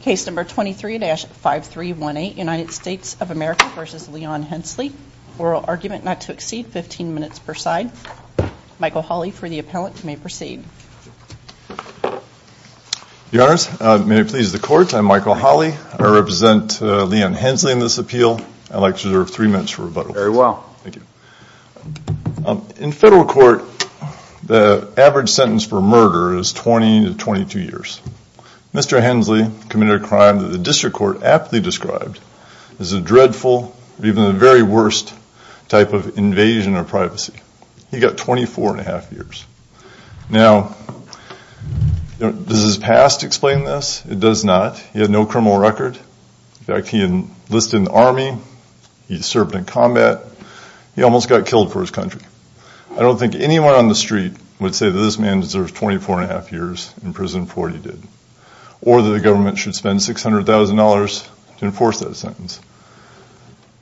Case number 23-5318, United States of America v. Leon Hensley. Oral argument not to exceed 15 minutes per side. Michael Hawley for the appellant, you may proceed. Your honors, may it please the court, I'm Michael Hawley. I represent Leon Hensley in this appeal. I'd like to reserve three minutes for rebuttal. Very well. Thank you. In federal court, the average sentence for murder is 20 to 22 years. Mr. Hensley committed a crime that the district court aptly described as a dreadful, even the very worst, type of invasion of privacy. He got 24 and a half years. Now, does his past explain this? It does not. He had no criminal record. In fact, he enlisted in the army. He served in combat. He almost got killed for his country. I don't think anyone on the street would say that this man deserves 24 and a half years in prison for what he did. Or that the government should spend $600,000 to enforce that sentence.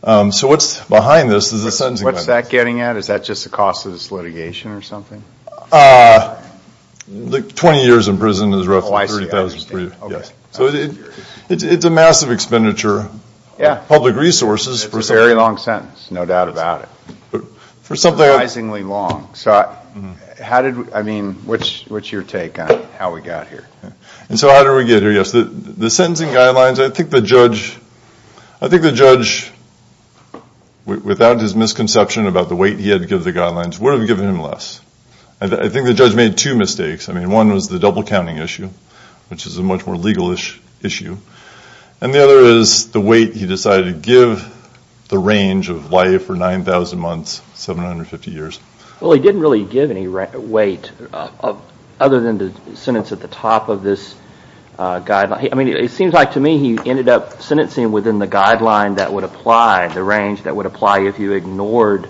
So what's behind this is the sentencing. What's that getting at? Is that just the cost of this litigation or something? 20 years in prison is roughly $30,000 for you. So it's a massive expenditure of public resources. It's a very long sentence, no doubt about it. Surprisingly long. So how did, I mean, what's your take on how we got here? And so how did we get here? Yes, the sentencing guidelines, I think the judge, without his misconception about the weight he had to give the guidelines, would have given him less. I think the judge made two mistakes. I mean, one was the double counting issue, which is a much more legal issue. And the other is the weight he decided to give the range of life for 9,000 months, 750 years. Well, he didn't really give any weight other than the sentence at the top of this guideline. I mean, it seems like to me he ended up sentencing within the guideline that would apply, the range that would apply if you ignored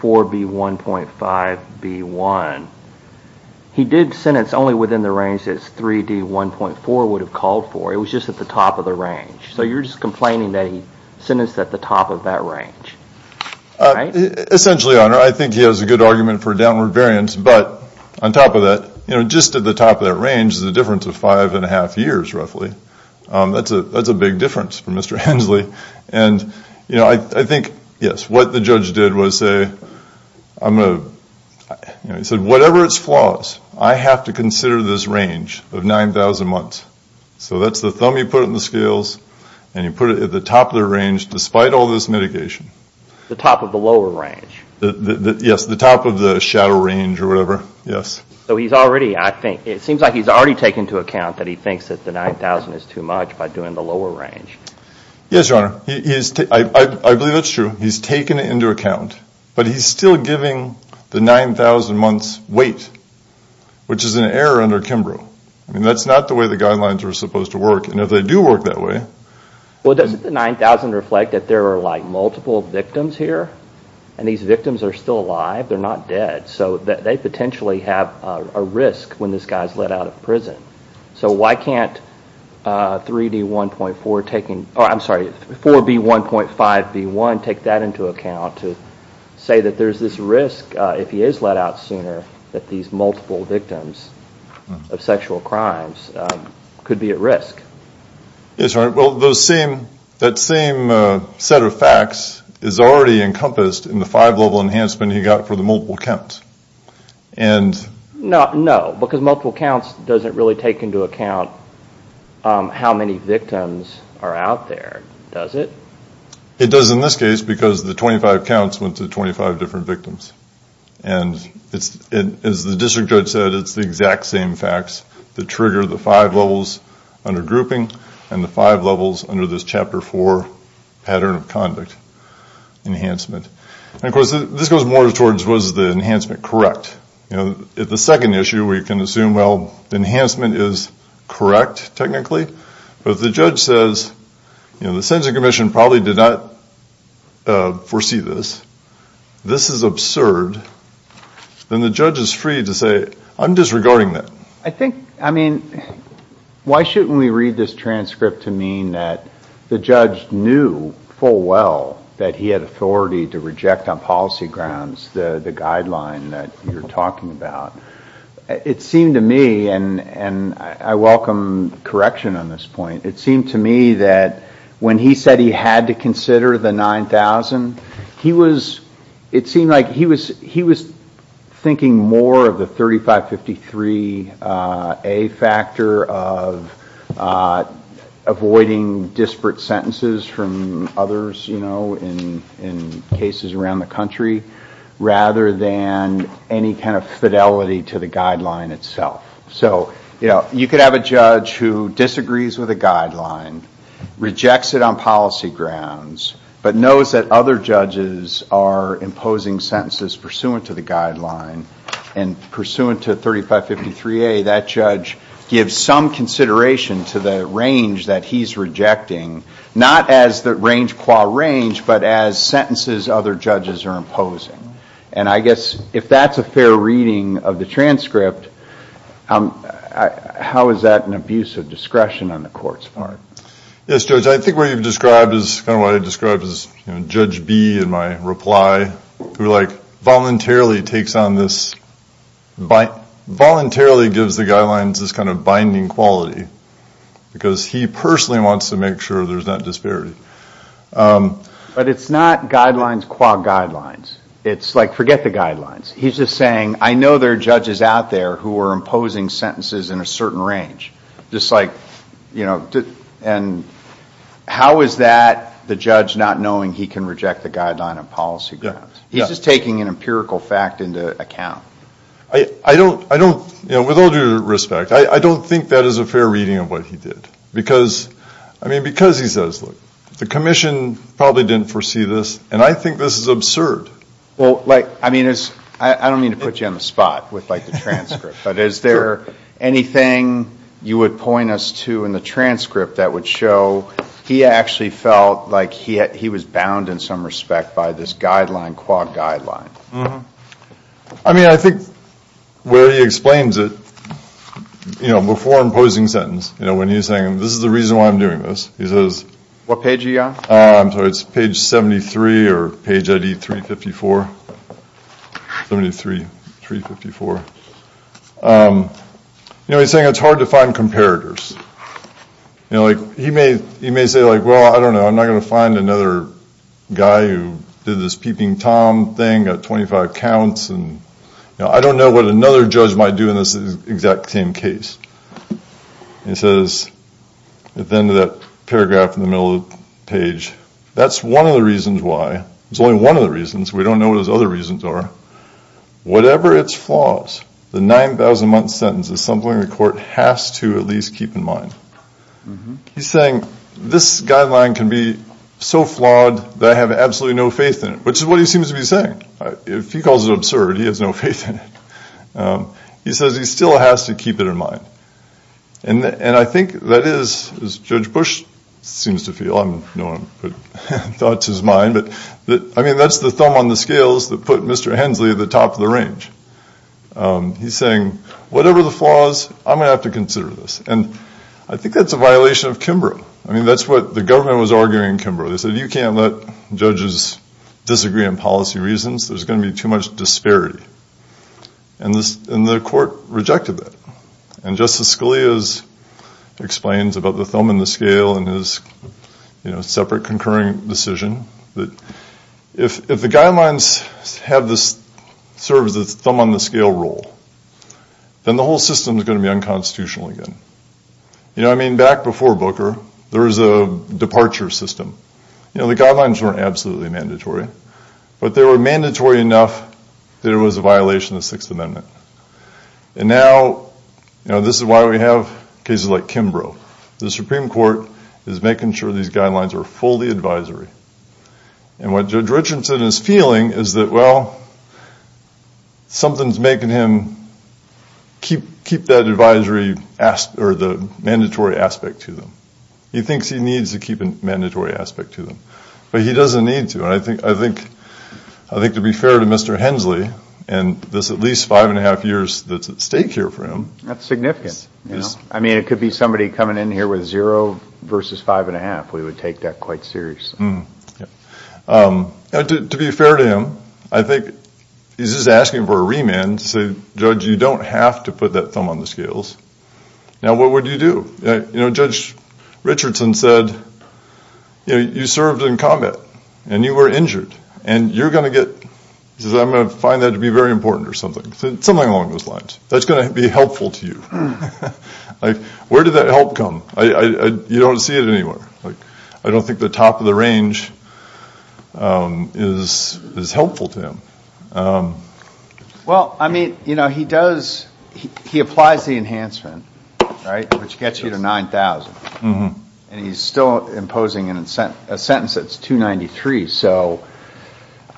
4B1.5B1. He did sentence only within the range that 3D1.4 would have called for. It was just at the top of the range. So you're just complaining that he sentenced at the top of that range, right? Essentially, Your Honor, I think he has a good argument for downward variance. But on top of that, just at the top of that range is a difference of five and a half years, roughly. That's a big difference for Mr. Hensley. And I think, yes, what the judge did was say, I'm going to, he said, whatever its flaws, I have to consider this range of 9,000 months. So that's the thumb you put on the scales, and you put it at the top of the range despite all this mitigation. The top of the lower range. Yes, the top of the shadow range or whatever, yes. So he's already, I think, it seems like he's already taken into account that he thinks that the 9,000 is too much by doing the lower range. Yes, Your Honor, I believe that's true. He's taken it into account. But he's still giving the 9,000 months wait, which is an error under Kimbrough. I mean, that's not the way the guidelines are supposed to work. And if they do work that way. Well, doesn't the 9,000 reflect that there are like multiple victims here? And these victims are still alive, they're not dead. So they potentially have a risk when this guy's let out of prison. So why can't 3D1.4 taking, I'm sorry, 4B1.5B1 take that into account to say that there's this risk if he is let out sooner that these multiple victims of sexual crimes could be at risk? Yes, Your Honor, well, those same, that same set of facts is already encompassed in the five level enhancement he got for the multiple counts. And. No, no, because multiple counts doesn't really take into account how many victims are out there, does it? It does in this case because the 25 counts went to 25 different victims. And it's, as the district judge said, it's the exact same facts that trigger the five levels under grouping and the five levels under this chapter four pattern of conduct enhancement. And of course, this goes more towards was the enhancement correct? You know, if the second issue we can assume, well, enhancement is correct, technically, but if the judge says, you know, the sentencing commission probably did not foresee this, this is absurd. Then the judge is free to say, I'm disregarding that. I think, I mean, why shouldn't we read this transcript to mean that the judge knew full well that he had authority to reject on policy grounds the guideline that you're talking about? It seemed to me, and I welcome correction on this point. It seemed to me that when he said he had to consider the 9,000, he was, it seemed like he was thinking more of the 3553A factor of avoiding disparate sentences from others, you know, in cases around the country rather than any kind of fidelity to the guideline itself. So, you know, you could have a judge who disagrees with a guideline, rejects it on policy grounds, but knows that other judges are imposing sentences pursuant to the guideline and pursuant to 3553A, that judge gives some consideration to the range that he's rejecting, not as the range qua range, but as sentences other judges are imposing. And I guess if that's a fair reading of the transcript, how is that an abuse of discretion on the court's part? Yes, Judge, I think what you've described is kind of what I described as, you know, Judge B in my reply, who like voluntarily takes on this, voluntarily gives the guidelines this kind of binding quality because he personally wants to make sure there's not disparity. But it's not guidelines qua guidelines. It's like forget the guidelines. He's just saying, I know there are judges out there who are imposing sentences in a certain range. Just like, you know, and how is that the judge not knowing he can reject the guideline on policy grounds? He's just taking an empirical fact into account. I don't, you know, with all due respect, I don't think that is a fair reading of what he did. Because, I mean, because he says, look, the commission probably didn't foresee this and I think this is absurd. Well, like, I mean, I don't mean to put you on the spot with like the transcript, but is there anything you would point us to in the transcript that would show he actually felt like he was bound in some respect by this guideline, qua guideline? I mean, I think where he explains it, you know, before imposing sentence, you know, when he's saying this is the reason why I'm doing this, he says. What page are you on? I'm sorry, it's page 73 or page ID 354. Let me do 3, 354. You know, he's saying it's hard to find comparators. You know, like, he may say, like, well, I don't know, I'm not going to find another guy who did this peeping Tom thing, got 25 counts. And, you know, I don't know what another judge might do in this exact same case. He says, at the end of that paragraph in the middle of the page, that's one of the reasons why. It's only one of the reasons. We don't know what his other reasons are. Whatever its flaws, the 9,000-month sentence is something the court has to at least keep in mind. He's saying this guideline can be so flawed that I have absolutely no faith in it, which is what he seems to be saying. If he calls it absurd, he has no faith in it. He says he still has to keep it in mind. And I think that is, as Judge Bush seems to feel, I don't want to put thought to his mind, but I mean, that's the thumb on the scales that put Mr. Hensley at the top of the range. He's saying, whatever the flaws, I'm going to have to consider this. And I think that's a violation of Kimbrough. I mean, that's what the government was arguing in Kimbrough. They said, you can't let judges disagree on policy reasons. There's going to be too much disparity. And the court rejected that. And Justice Scalia explains about the thumb on the scale and his, you know, if the guidelines have this, serve as the thumb on the scale rule, then the whole system is going to be unconstitutional again. You know, I mean, back before Booker, there was a departure system. You know, the guidelines weren't absolutely mandatory. But they were mandatory enough that it was a violation of the Sixth Amendment. And now, you know, this is why we have cases like Kimbrough. The Supreme Court is making sure these guidelines are fully advisory. And what Judge Richardson is feeling is that, well, something's making him keep that advisory or the mandatory aspect to them. He thinks he needs to keep a mandatory aspect to them. But he doesn't need to. And I think to be fair to Mr. Hensley, and this at least five and a half years that's at stake here for him. That's significant. I mean, it could be somebody coming in here with zero versus five and a half. We would take that quite serious. To be fair to him, I think he's just asking for a remand to say, Judge, you don't have to put that thumb on the scales. Now, what would you do? You know, Judge Richardson said, you know, you served in combat. And you were injured. And you're going to get, he says, I'm going to find that to be very important or something. Something along those lines. That's going to be helpful to you. Like, where did that help come? You don't see it anywhere. Like, I don't think the top of the range is helpful to him. Well, I mean, you know, he does, he applies the enhancement, right, which gets you to 9,000. And he's still imposing a sentence that's 293. So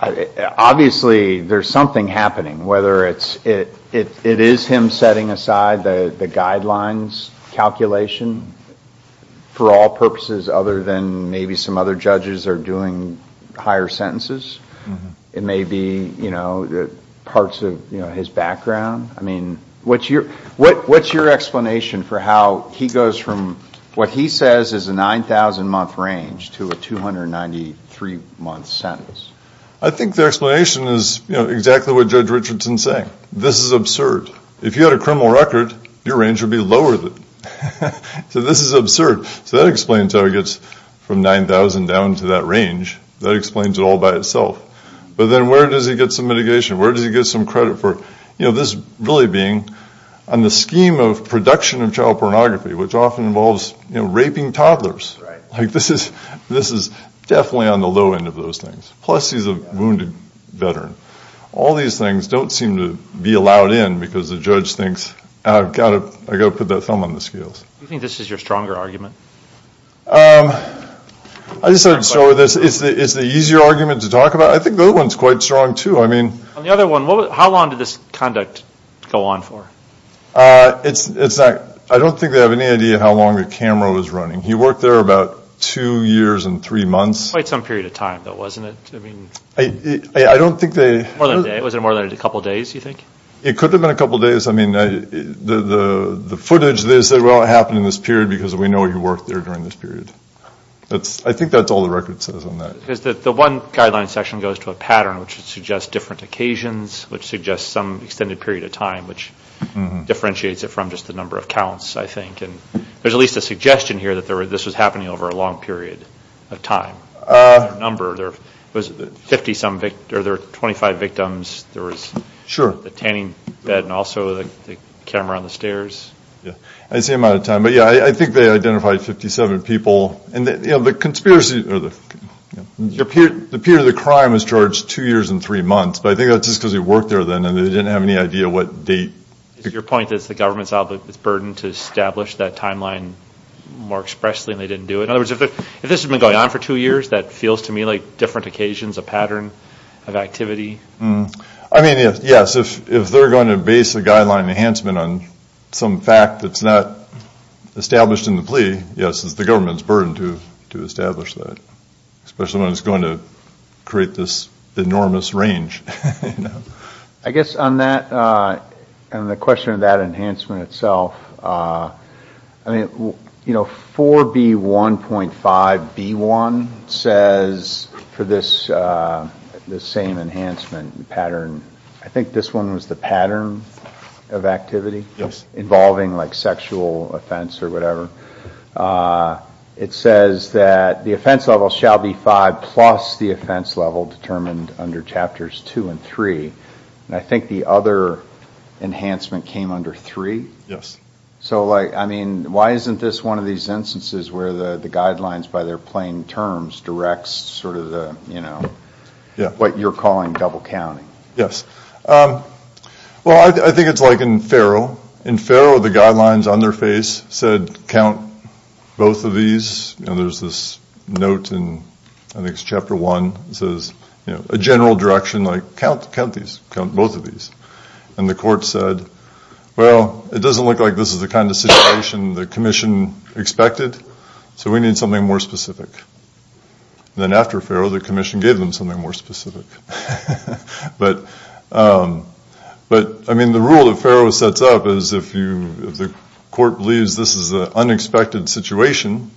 obviously, there's something happening, whether it is him setting aside the guidelines calculation for all purposes other than maybe some other judges are doing higher sentences. It may be, you know, parts of his background. I mean, what's your explanation for how he goes from what he says is a 9,000 month range to a 293 month sentence? I think the explanation is, you know, exactly what Judge Richardson is saying. This is absurd. If you had a criminal record, your range would be lower than. So this is absurd. So that explains how he gets from 9,000 down to that range. That explains it all by itself. But then where does he get some mitigation? Where does he get some credit for, you know, this really being on the scheme of production of child pornography, which often involves, you know, raping toddlers. Like, this is definitely on the low end of those things. Plus, he's a wounded veteran. All these things don't seem to be allowed in because the judge thinks, I've got to put that thumb on the scales. Do you think this is your stronger argument? I just have to start with this. It's the easier argument to talk about. I think the other one's quite strong, too. I mean. On the other one, how long did this conduct go on for? It's not. I don't think they have any idea how long the camera was running. He worked there about two years and three months. Quite some period of time, though, wasn't it? I mean. I don't think they. More than a day. Was it more than a couple days, do you think? It could have been a couple days. I mean, the footage, they said, well, it happened in this period because we know he worked there during this period. That's. I think that's all the record says on that. Because the one guideline section goes to a pattern which suggests different occasions, which suggests some extended period of time, which differentiates it from just the number of counts, I think. There's at least a suggestion here that this was happening over a long period of time. There was 50 some, or there were 25 victims. There was. Sure. The tanning bed and also the camera on the stairs. Yeah. It's the amount of time. But yeah, I think they identified 57 people. And the conspiracy, or the period of the crime was charged two years and three months. But I think that's just because he worked there then and they didn't have any idea what date. Your point is the government's burden to establish that timeline more expressly and they didn't do it. In other words, if this has been going on for two years, that feels to me like different occasions, a pattern of activity. I mean, yes. If they're going to base a guideline enhancement on some fact that's not established in the plea, yes, it's the government's burden to establish that. Especially when it's going to create this enormous range. I guess on that, on the question of that enhancement itself, I mean, you know, 4B1.5B1 says for this same enhancement pattern, I think this one was the pattern of activity. Yes. Involving like sexual offense or whatever. It says that the offense level shall be five plus the offense level determined under chapters two and three. And I think the other enhancement came under three? So like, I mean, why isn't this one of these instances where the guidelines by their plain terms directs sort of the, you know, what you're calling double counting? Yes. Well, I think it's like in Faro. In Faro, the guidelines on their face said count both of these. You know, there's this note in, I think it's chapter one. It says, you know, a general direction like count these, count both of these. And the court said, well, it doesn't look like this is the kind of situation the commission expected. So we need something more specific. Then after Faro, the commission gave them something more specific. But, I mean, the rule that Faro sets up is if you, if the court believes this is an unexpected situation,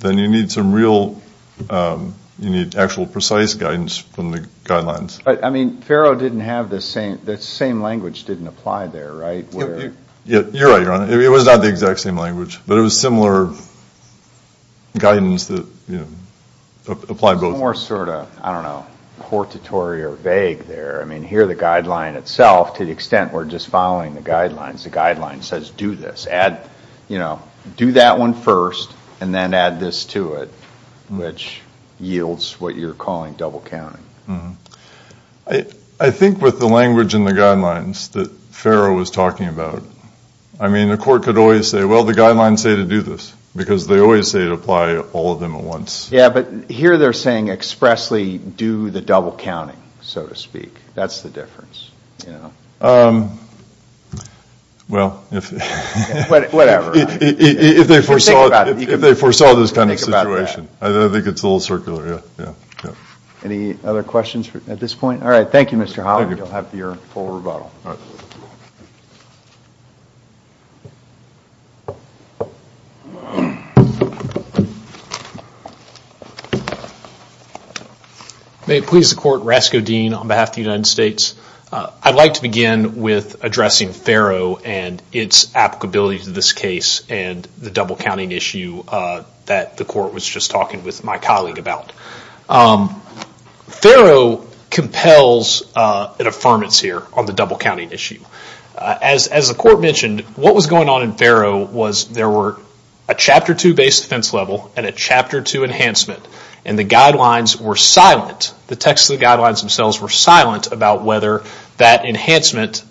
then you need some real, you need actual precise guidance from the guidelines. But, I mean, Faro didn't have the same, the same language didn't apply there, right? Yeah, you're right, Your Honor. It was not the exact same language, but it was similar guidance that, you know, applied both. It's more sort of, I don't know, portatory or vague there. I mean, here the guideline itself, to the extent we're just following the guidelines, the guideline says do this, add, you know, do that one first and then add this to it, which yields what you're calling double counting. I think with the language in the guidelines that Faro was talking about, I mean the court could always say, well, the guidelines say to do this because they always say to apply all of them at once. Yeah, but here they're saying expressly do the double counting, so to speak, that's the difference, you know. Well, if they foresaw this kind of situation, I think it's a little circular, yeah, yeah, yeah. Any other questions at this point? All right. Thank you, Mr. Holland. You'll have your full rebuttal. All right. May it please the court, Rasko Dean on behalf of the United States. I'd like to begin with addressing Faro and its applicability to this case and the double counting issue that the court was just talking with my colleague about. Faro compels an affirmance here on the double counting issue. As the court mentioned, what was going on in Faro was there were a Chapter 2 based defense level and a Chapter 2 enhancement and the guidelines were silent. The text of the guidelines themselves were silent about whether that enhancement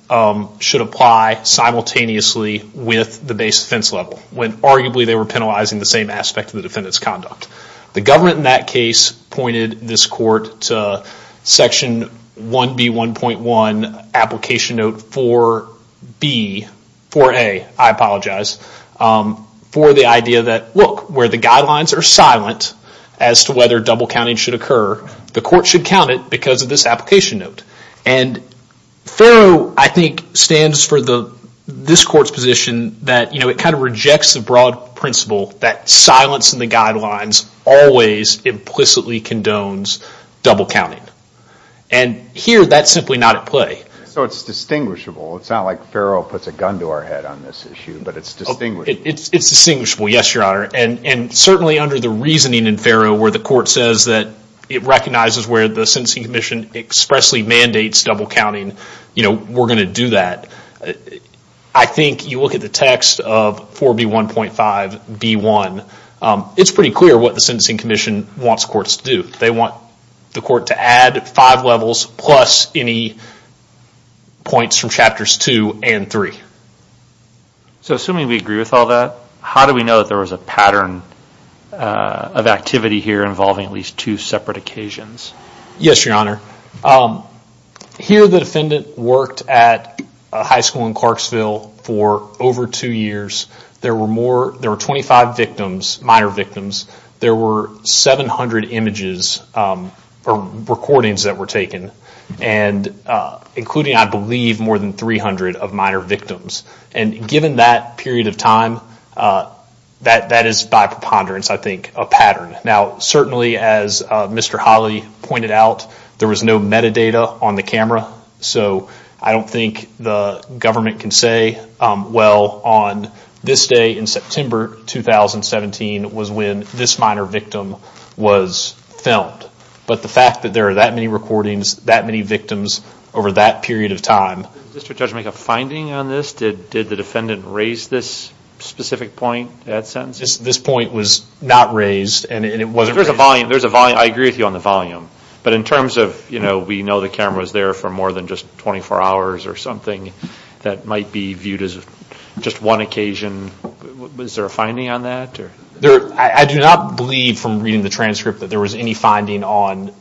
should apply simultaneously with the base defense level when arguably they were penalizing the same aspect of the defendant's conduct. The government in that case pointed this court to Section 1B1.1 Application Note 4B, 4A, I apologize, for the idea that, look, where the guidelines are silent as to whether double counting should occur, the court should count it because of this application note. And Faro, I think, stands for this court's position that, you know, it kind of rejects the broad principle that silence in the guidelines always implicitly condones double counting. And here, that's simply not at play. So it's distinguishable. It's not like Faro puts a gun to our head on this issue, but it's distinguishable. It's distinguishable, yes, Your Honor. And certainly under the reasoning in Faro where the court says that it recognizes where the Sentencing Commission expressly mandates double counting, you know, we're going to do that. I think you look at the text of 4B1.5B1. It's pretty clear what the Sentencing Commission wants courts to do. They want the court to add five levels plus any points from Chapters 2 and 3. So assuming we agree with all that, how do we know that there was a pattern of activity here involving at least two separate occasions? Yes, Your Honor. Here, the defendant worked at a high school in Clarksville for over two years. There were more, there were 25 victims, minor victims. There were 700 images or recordings that were taken and including, I believe, more than 300 of minor victims. And given that period of time, that is by preponderance, I think, a pattern. Now, certainly as Mr. Holly pointed out, there was no metadata on the camera. So I don't think the government can say, well, on this day in September 2017 was when this minor victim was filmed. But the fact that there are that many recordings, that many victims over that period of time. Did the district judge make a finding on this? Did the defendant raise this specific point at sentencing? This point was not raised and it wasn't raised. There's a volume. There's a volume. I agree with you on the volume. But in terms of, you know, we know the camera was there for more than just 24 hours or something that might be viewed as just one occasion. Was there a finding on that? I do not believe from reading the transcript that there was any finding on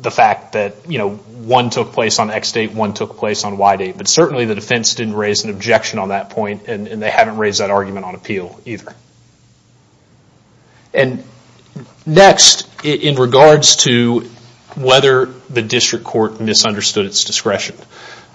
the fact that, you know, one took place on X date, one took place on Y date. But certainly the defense didn't raise an objection on that point. And they haven't raised that argument on appeal either. And next, in regards to whether the district court misunderstood its discretion.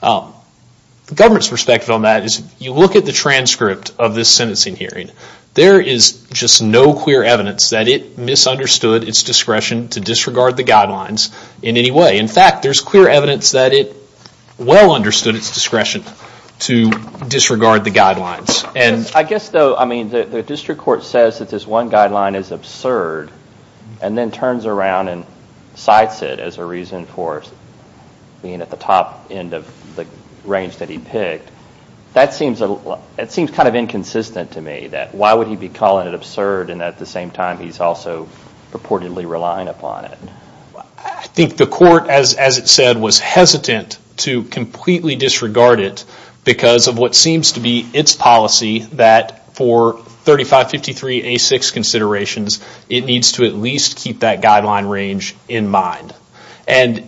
The government's perspective on that is you look at the transcript of this sentencing hearing. There is just no clear evidence that it misunderstood its discretion to disregard the guidelines in any way. In fact, there's clear evidence that it well understood its discretion to disregard the guidelines. And I guess though, I mean, the district court says that this one guideline is absurd and then turns around and cites it as a reason for being at the top end of the range that he picked, that seems kind of inconsistent to me. That why would he be calling it absurd and at the same time he's also purportedly relying upon it? I think the court, as it said, was hesitant to completely disregard it because of what seems to be its policy that for 3553A6 considerations it needs to at least keep that guideline range in mind. And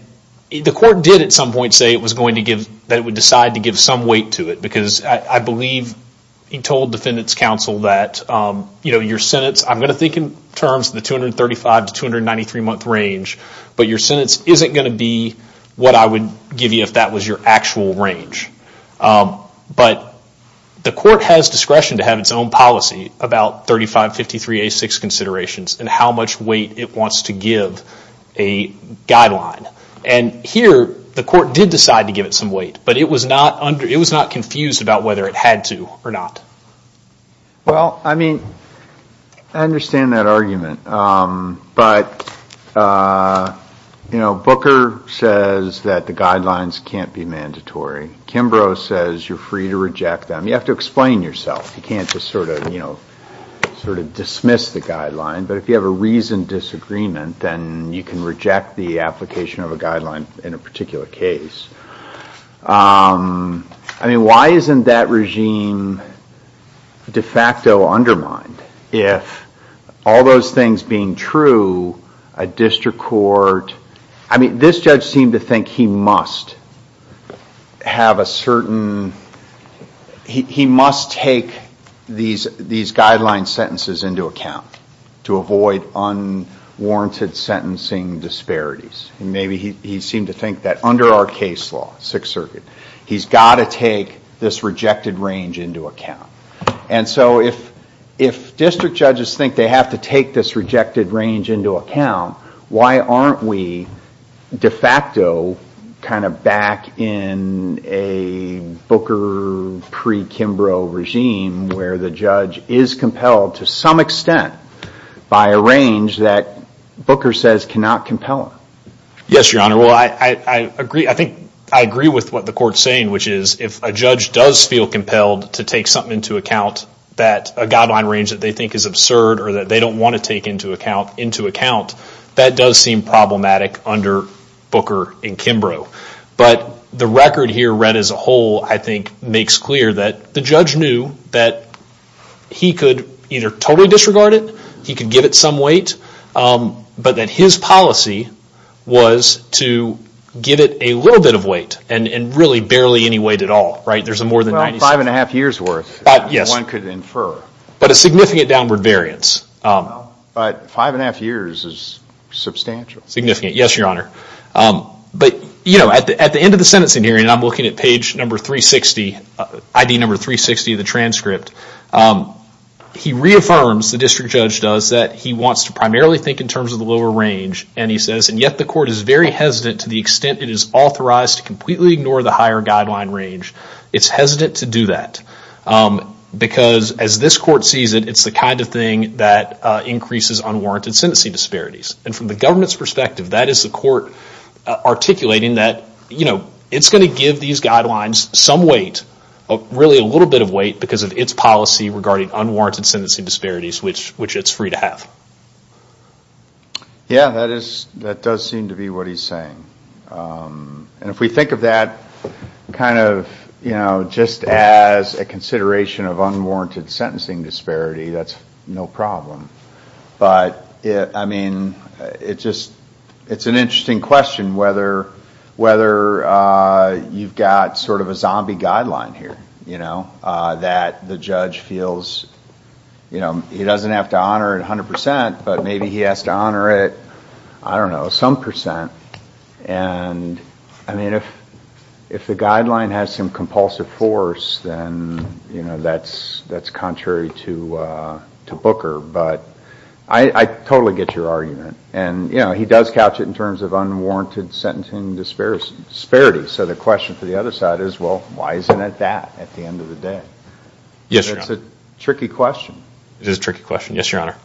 the court did at some point say it was going to give, that it would decide to give some weight to it because I believe he told defendant's counsel that, you know, your sentence, I'm going to think in terms of the 235 to 293 month range, but your sentence isn't going to be what I would give you if that was your actual range. But the court has discretion to have its own policy about 3553A6 considerations and how much weight it wants to give a guideline. And here the court did decide to give it some weight, but it was not confused about whether it had to or not. Well, I mean, I understand that argument, but, you know, Booker says that the guidelines can't be mandatory. Kimbrough says you're free to reject them. You have to explain yourself. You can't just sort of, you know, sort of dismiss the guideline. But if you have a reasoned disagreement, then you can reject the application of a guideline in a particular case. I mean, why isn't that regime de facto undermined? If all those things being true, a district court, I mean, this judge seemed to think he must have a certain, he must take these guideline sentences into account to avoid unwarranted sentencing disparities. Maybe he seemed to think that under our case law, Sixth Circuit, he's got to take this rejected range into account. And so if district judges think they have to take this rejected range into account, why aren't we de facto kind of back in a Booker pre-Kimbrough regime where the judge is compelled to some extent by a range that Booker says cannot compel him? Yes, Your Honor, well, I agree. I think I agree with what the court's saying, which is if a judge does feel compelled to take something into account that a guideline range that they think is absurd or that they don't want to take into account, into account, that does seem problematic under Booker and Kimbrough. But the record here read as a whole, I think, makes clear that the judge knew that he could either totally disregard it, he could give it some weight, but that his policy was to give it a little bit of weight and really barely any weight at all, right? There's a more than 90- Five and a half years' worth that one could infer. But a significant downward variance. But five and a half years is substantial. Significant, yes, Your Honor. But, you know, at the end of the sentencing hearing, and I'm looking at page number 360, ID number 360 of the transcript, he reaffirms, the district judge does, that he wants to primarily think in terms of the lower range, and he says, and yet the court is very hesitant to the extent it is authorized to completely ignore the higher guideline range. It's hesitant to do that because, as this court sees it, it's the kind of thing that increases unwarranted sentencing disparities. And from the government's perspective, that is the court articulating that, you know, it's going to give these guidelines some weight, really a little bit of weight because of its policy regarding unwarranted sentencing disparities, which it's free to have. Yeah, that does seem to be what he's saying. And if we think of that kind of, you know, just as a consideration of unwarranted sentencing disparity, that's no problem. But, I mean, it's an interesting question whether you've got sort of a zombie guideline here, you know, that the judge feels, you know, he doesn't have to honor it 100 percent, but maybe he has to honor it, I don't know, some percent. And, I mean, if the guideline has some compulsive force, then, you know, that's contrary to Booker, but I totally get your argument. And, you know, he does couch it in terms of unwarranted sentencing disparities. So the question for the other side is, well, why isn't it that at the end of the day? Yes, Your Honor. It's a tricky question. It is a tricky question. Yes, Your Honor.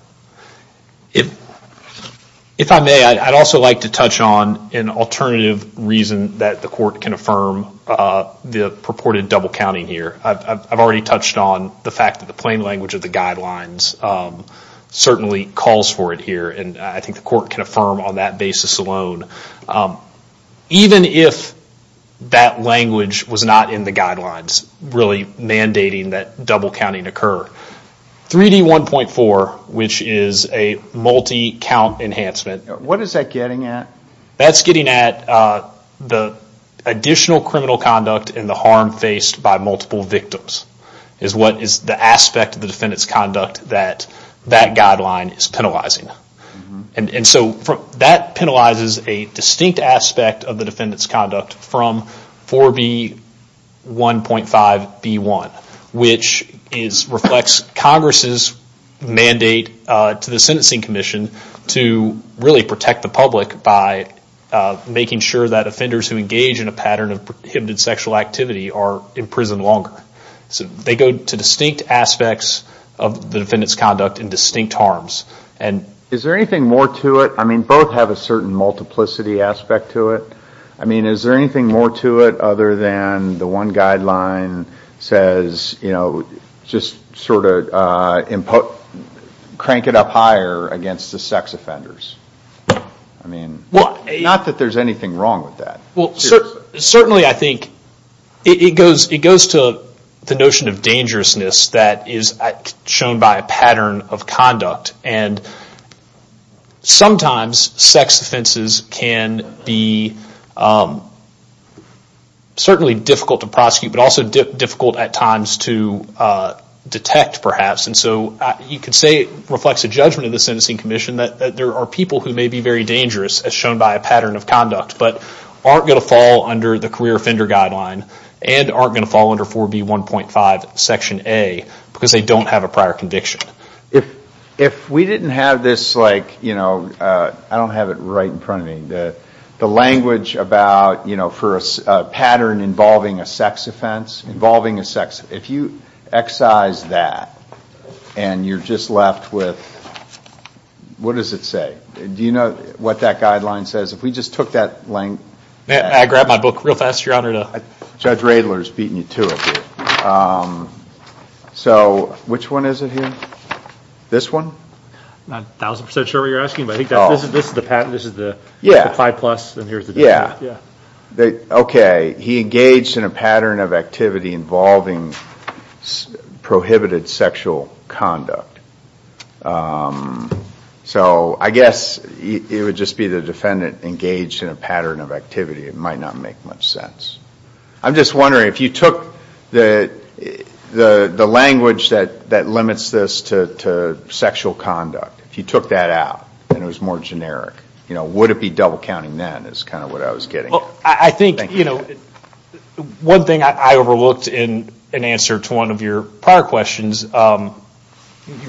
If I may, I'd also like to touch on an alternative reason that the court can affirm the purported double counting here. I've already touched on the fact that the plain language of the guidelines certainly calls for it here. And I think the court can affirm on that basis alone. Even if that language was not in the guidelines really mandating that double counting occur, 3D1.4, which is a multi-count enhancement. What is that getting at? That's getting at the additional criminal conduct and the harm faced by multiple victims, is what is the aspect of the defendant's conduct that that guideline is penalizing. And so that penalizes a distinct aspect of the defendant's conduct from 4B1.5B1, which reflects Congress' mandate to the Sentencing Commission to really protect the public by making sure that offenders who engage in a pattern of prohibited sexual activity are in prison longer. So they go to distinct aspects of the defendant's conduct and distinct harms. And is there anything more to it? I mean, both have a certain multiplicity aspect to it. I mean, is there anything more to it other than the one guideline says, you know, just sort of crank it up higher against the sex offenders? I mean, not that there's anything wrong with that. Well, certainly I think it goes to the notion of dangerousness that is shown by a pattern of conduct, and sometimes sex offenses can be certainly difficult to prosecute, but also difficult at times to detect, perhaps. And so you could say it reflects a judgment of the Sentencing Commission that there are people who may be very dangerous as shown by a pattern of conduct, but aren't going to fall under the Career Offender Guideline and aren't going to fall under 4B1.5 Section A because they don't have a prior conviction. If we didn't have this, like, you know, I don't have it right in front of me. The language about, you know, for a pattern involving a sex offense, involving a sex, if you excise that and you're just left with, what does it say? Do you know what that guideline says? If we just took that length? May I grab my book real fast, Your Honor? Judge Radler's beating you to it here. So which one is it here? This one? I'm not a thousand percent sure what you're asking, but I think that's, this is the pattern, this is the 5 plus, and here's the 2, yeah. Okay. He engaged in a pattern of activity involving prohibited sexual conduct. So I guess it would just be the defendant engaged in a pattern of activity. It might not make much sense. I'm just wondering, if you took the language that limits this to sexual conduct, if you took that out and it was more generic, you know, would it be double counting then is kind of what I was getting at. Well, I think, you know, one thing I overlooked in answer to one of your prior questions, you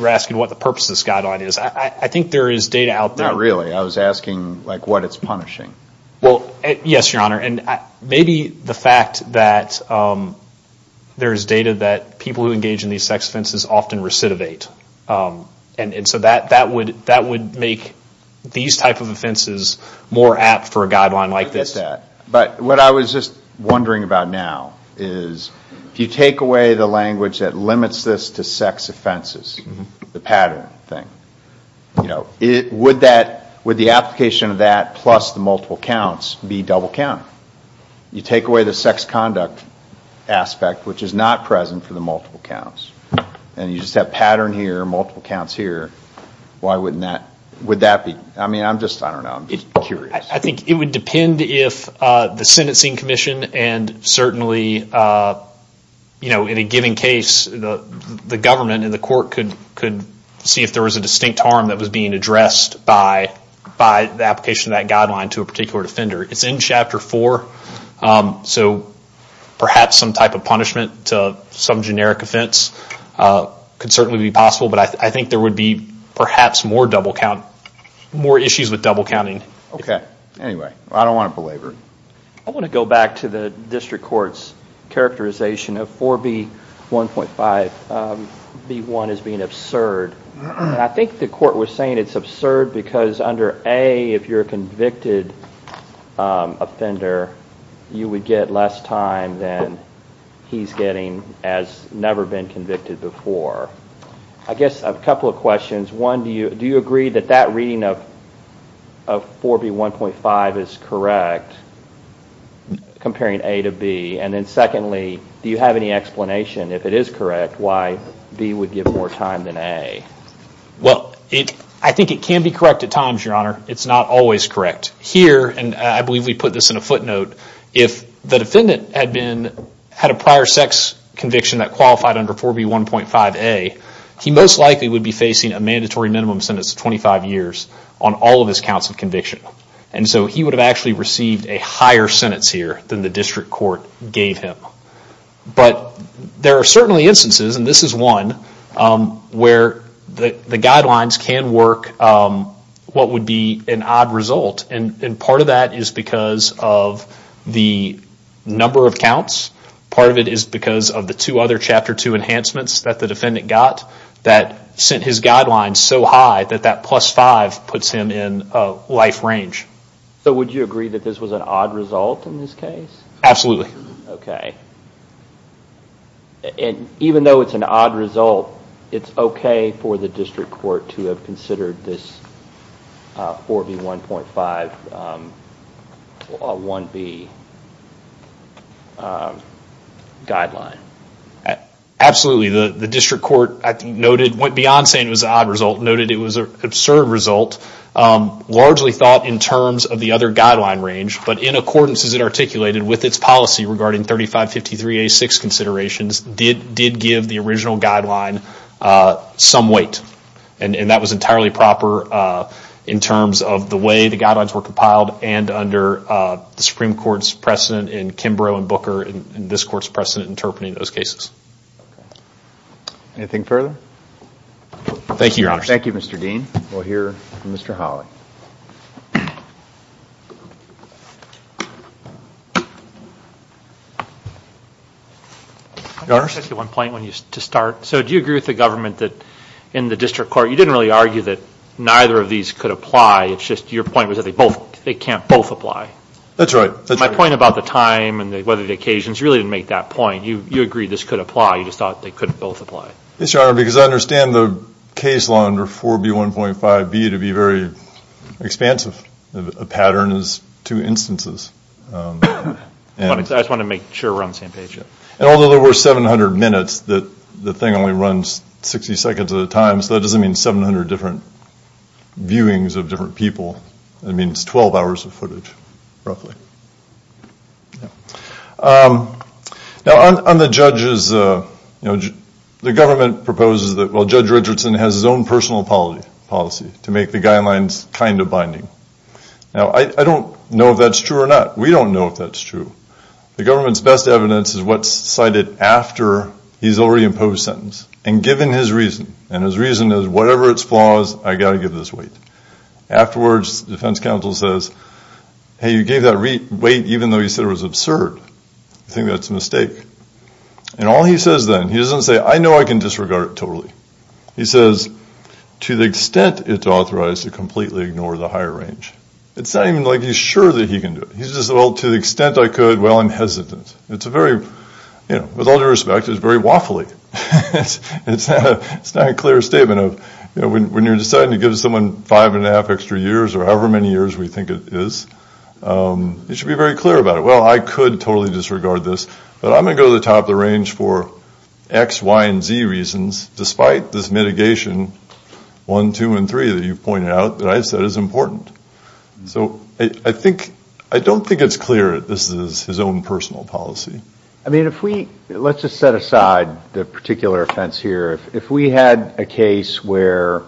were asking what the purpose of this guideline is. I think there is data out there. Not really. I was asking, like, what it's punishing. Well, yes, Your Honor, and maybe the fact that there is data that people who engage in these sex offenses often recidivate. And so that would make these type of offenses more apt for a guideline like this. But what I was just wondering about now is, if you take away the language that limits this to sex offenses, the pattern thing, you know, would that, would the application of that plus the multiple counts be double counted? You take away the sex conduct aspect, which is not present for the multiple counts, and you just have pattern here, multiple counts here, why wouldn't that, would that be, I mean, I'm just, I don't know, I'm just curious. I think it would depend if the sentencing commission and certainly, you know, in a given case, the government and the court could see if there was a distinct harm that was being addressed by the application of that guideline to a particular defender. It's in Chapter 4, so perhaps some type of punishment to some generic offense could certainly be possible. But I think there would be perhaps more double count, more issues with double counting. Okay, anyway, I don't want to belabor it. I want to go back to the district court's characterization of 4B1.5, B1 as being absurd. I think the court was saying it's absurd because under A, if you're a convicted offender, you would get less time than he's getting as never been convicted before. I guess a couple of questions, one, do you agree that that reading of 4B1.5 is correct comparing A to B? And then secondly, do you have any explanation if it is correct, why B would give more time than A? Well, I think it can be correct at times, Your Honor. It's not always correct. Here, and I believe we put this in a footnote, if the defendant had a prior sex conviction that qualified under 4B1.5A, he most likely would be facing a mandatory minimum sentence of 25 years on all of his counts of conviction. And so he would have actually received a higher sentence here than the district court gave him. But there are certainly instances, and this is one, where the guidelines can work what would be an odd result. And part of that is because of the number of counts. Part of it is because of the two other Chapter 2 enhancements that the defendant got that sent his guidelines so high that that plus five puts him in life range. So would you agree that this was an odd result in this case? Absolutely. Okay. And even though it's an odd result, it's okay for the district court to have considered this 4B1.5 1B guideline? Absolutely. The district court noted, went beyond saying it was an odd result, noted it was an absurd result, largely thought in terms of the other guideline range, but in accordance as it articulated with its policy regarding 3553A6 considerations, did give the original guideline some weight. And that was entirely proper in terms of the way the guidelines were compiled and under the Supreme Court's precedent in Kimbrough and Booker and this court's precedent interpreting those cases. Anything further? Thank you, Your Honor. Thank you, Mr. Dean. We'll hear from Mr. Hawley. Your Honor? I just have one point to start. So do you agree with the government that in the district court, you didn't really argue that neither of these could apply. It's just your point was that they can't both apply. That's right. My point about the time and the weathered occasions, you really didn't make that point. You agreed this could apply. You just thought they couldn't both apply. Yes, Your Honor, because I understand the case law under 4B1.5B to be very expansive. A pattern is two instances. I just want to make sure we're on the same page. And although there were 700 minutes, the thing only runs 60 seconds at a time, so that doesn't mean 700 different viewings of different people. It means 12 hours of footage, roughly. Now, on the judges, the government proposes that, well, I don't know if that's true or not. We don't know if that's true. The government's best evidence is what's cited after he's already imposed sentence. And given his reason, and his reason is whatever its flaws, I got to give this weight. Afterwards, the defense counsel says, hey, you gave that weight even though you said it was absurd. I think that's a mistake. And all he says then, he doesn't say, I know I can disregard it totally. He says, to the extent it's authorized to completely ignore the higher range. It's not even like he's sure that he can do it. He's just, well, to the extent I could, well, I'm hesitant. It's a very, with all due respect, it's very waffly. It's not a clear statement of when you're deciding to give someone five and a half extra years or however many years we think it is, you should be very clear about it. Well, I could totally disregard this, but I'm going to go to the top of the range for X, Y, and Z reasons, despite this mitigation, one, two, and three that you've pointed out that I said is important. So I don't think it's clear that this is his own personal policy. I mean, if we, let's just set aside the particular offense here. If we had a case where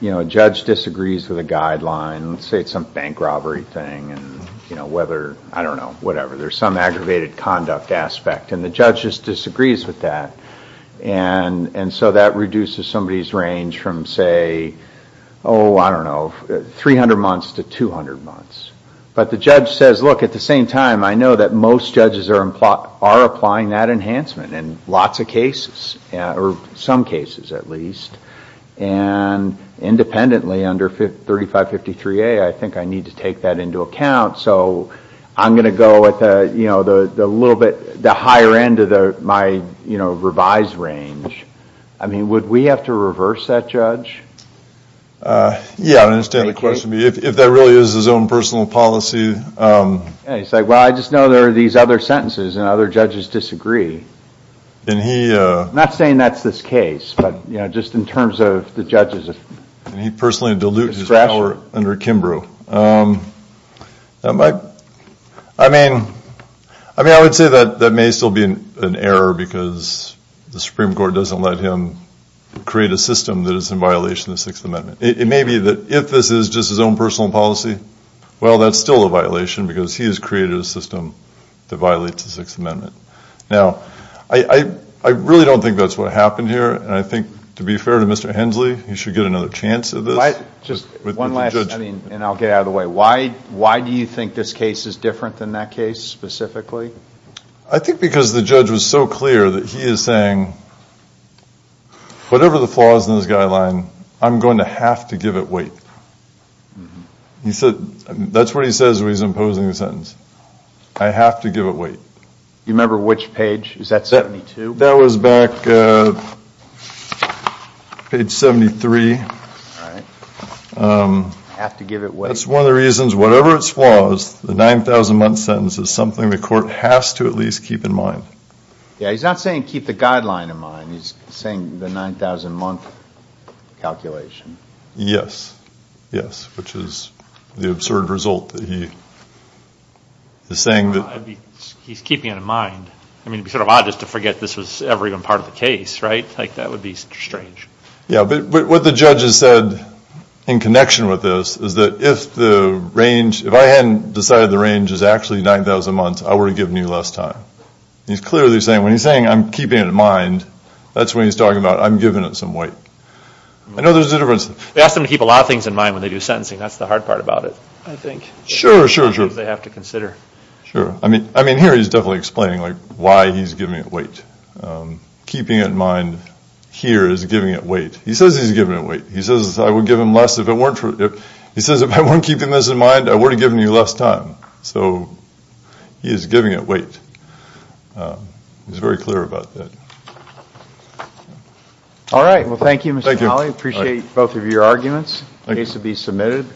a judge disagrees with a guideline, let's say it's some bank robbery thing, and whether, I don't know, whatever. There's some aggravated conduct aspect, and the judge just disagrees with that. And so that reduces somebody's range from, say, oh, I don't know, 300 months to 200 months. But the judge says, look, at the same time, I know that most judges are applying that enhancement in lots of cases, or some cases at least. And independently, under 3553A, I think I need to take that into account. So I'm going to go with the little bit, the higher end of my revised range. I mean, would we have to reverse that, Judge? Yeah, I don't understand the question. If that really is his own personal policy... He's like, well, I just know there are these other sentences, and other judges disagree. I'm not saying that's this case, but just in terms of the judge's discretion. He personally diluted his power under Kimbrough. I mean, I would say that that may still be an error, because the Supreme Court doesn't let him create a system that is in violation of the Sixth Amendment. It may be that if this is just his own personal policy, well, that's still a violation, because he has created a system that violates the Sixth Amendment. Now, I really don't think that's what happened here, and I think, to be fair to Mr. Hensley, he should get another chance at this. One last... I mean, and I'll get out of the way. Why do you think this case is different than that case, specifically? I think because the judge was so clear that he is saying, whatever the flaws in this guideline, I'm going to have to give it weight. He said... that's what he says when he's imposing the sentence. I have to give it weight. You remember which page? Is that 72? That was back... page 73. All right. I have to give it weight. That's one of the reasons, whatever its flaws, the 9,000-month sentence is something the court has to at least keep in mind. Yeah, he's not saying keep the guideline in mind. He's saying the 9,000-month calculation. Yes. Yes, which is the absurd result that he is saying that... He's keeping it in mind. I mean, it would be sort of odd just to forget this was ever even part of the case, right? That would be strange. Yeah, but what the judge has said in connection with this is that if the range... if I hadn't decided the range is actually 9,000 months, I would have given you less time. He's clearly saying, when he's saying, I'm keeping it in mind, that's what he's talking about. I'm giving it some weight. I know there's a difference. They ask them to keep a lot of things in mind when they do sentencing. That's the hard part about it, I think. Sure. Sure. They have to consider. Sure. I mean, here he's definitely explaining why he's giving it weight. Keeping it in mind here is giving it weight. He says he's giving it weight. He says, if I weren't keeping this in mind, I would have given you less time. So he is giving it weight. He's very clear about that. All right, well, thank you, Mr. Hawley. Appreciate both of your arguments. The case will be submitted.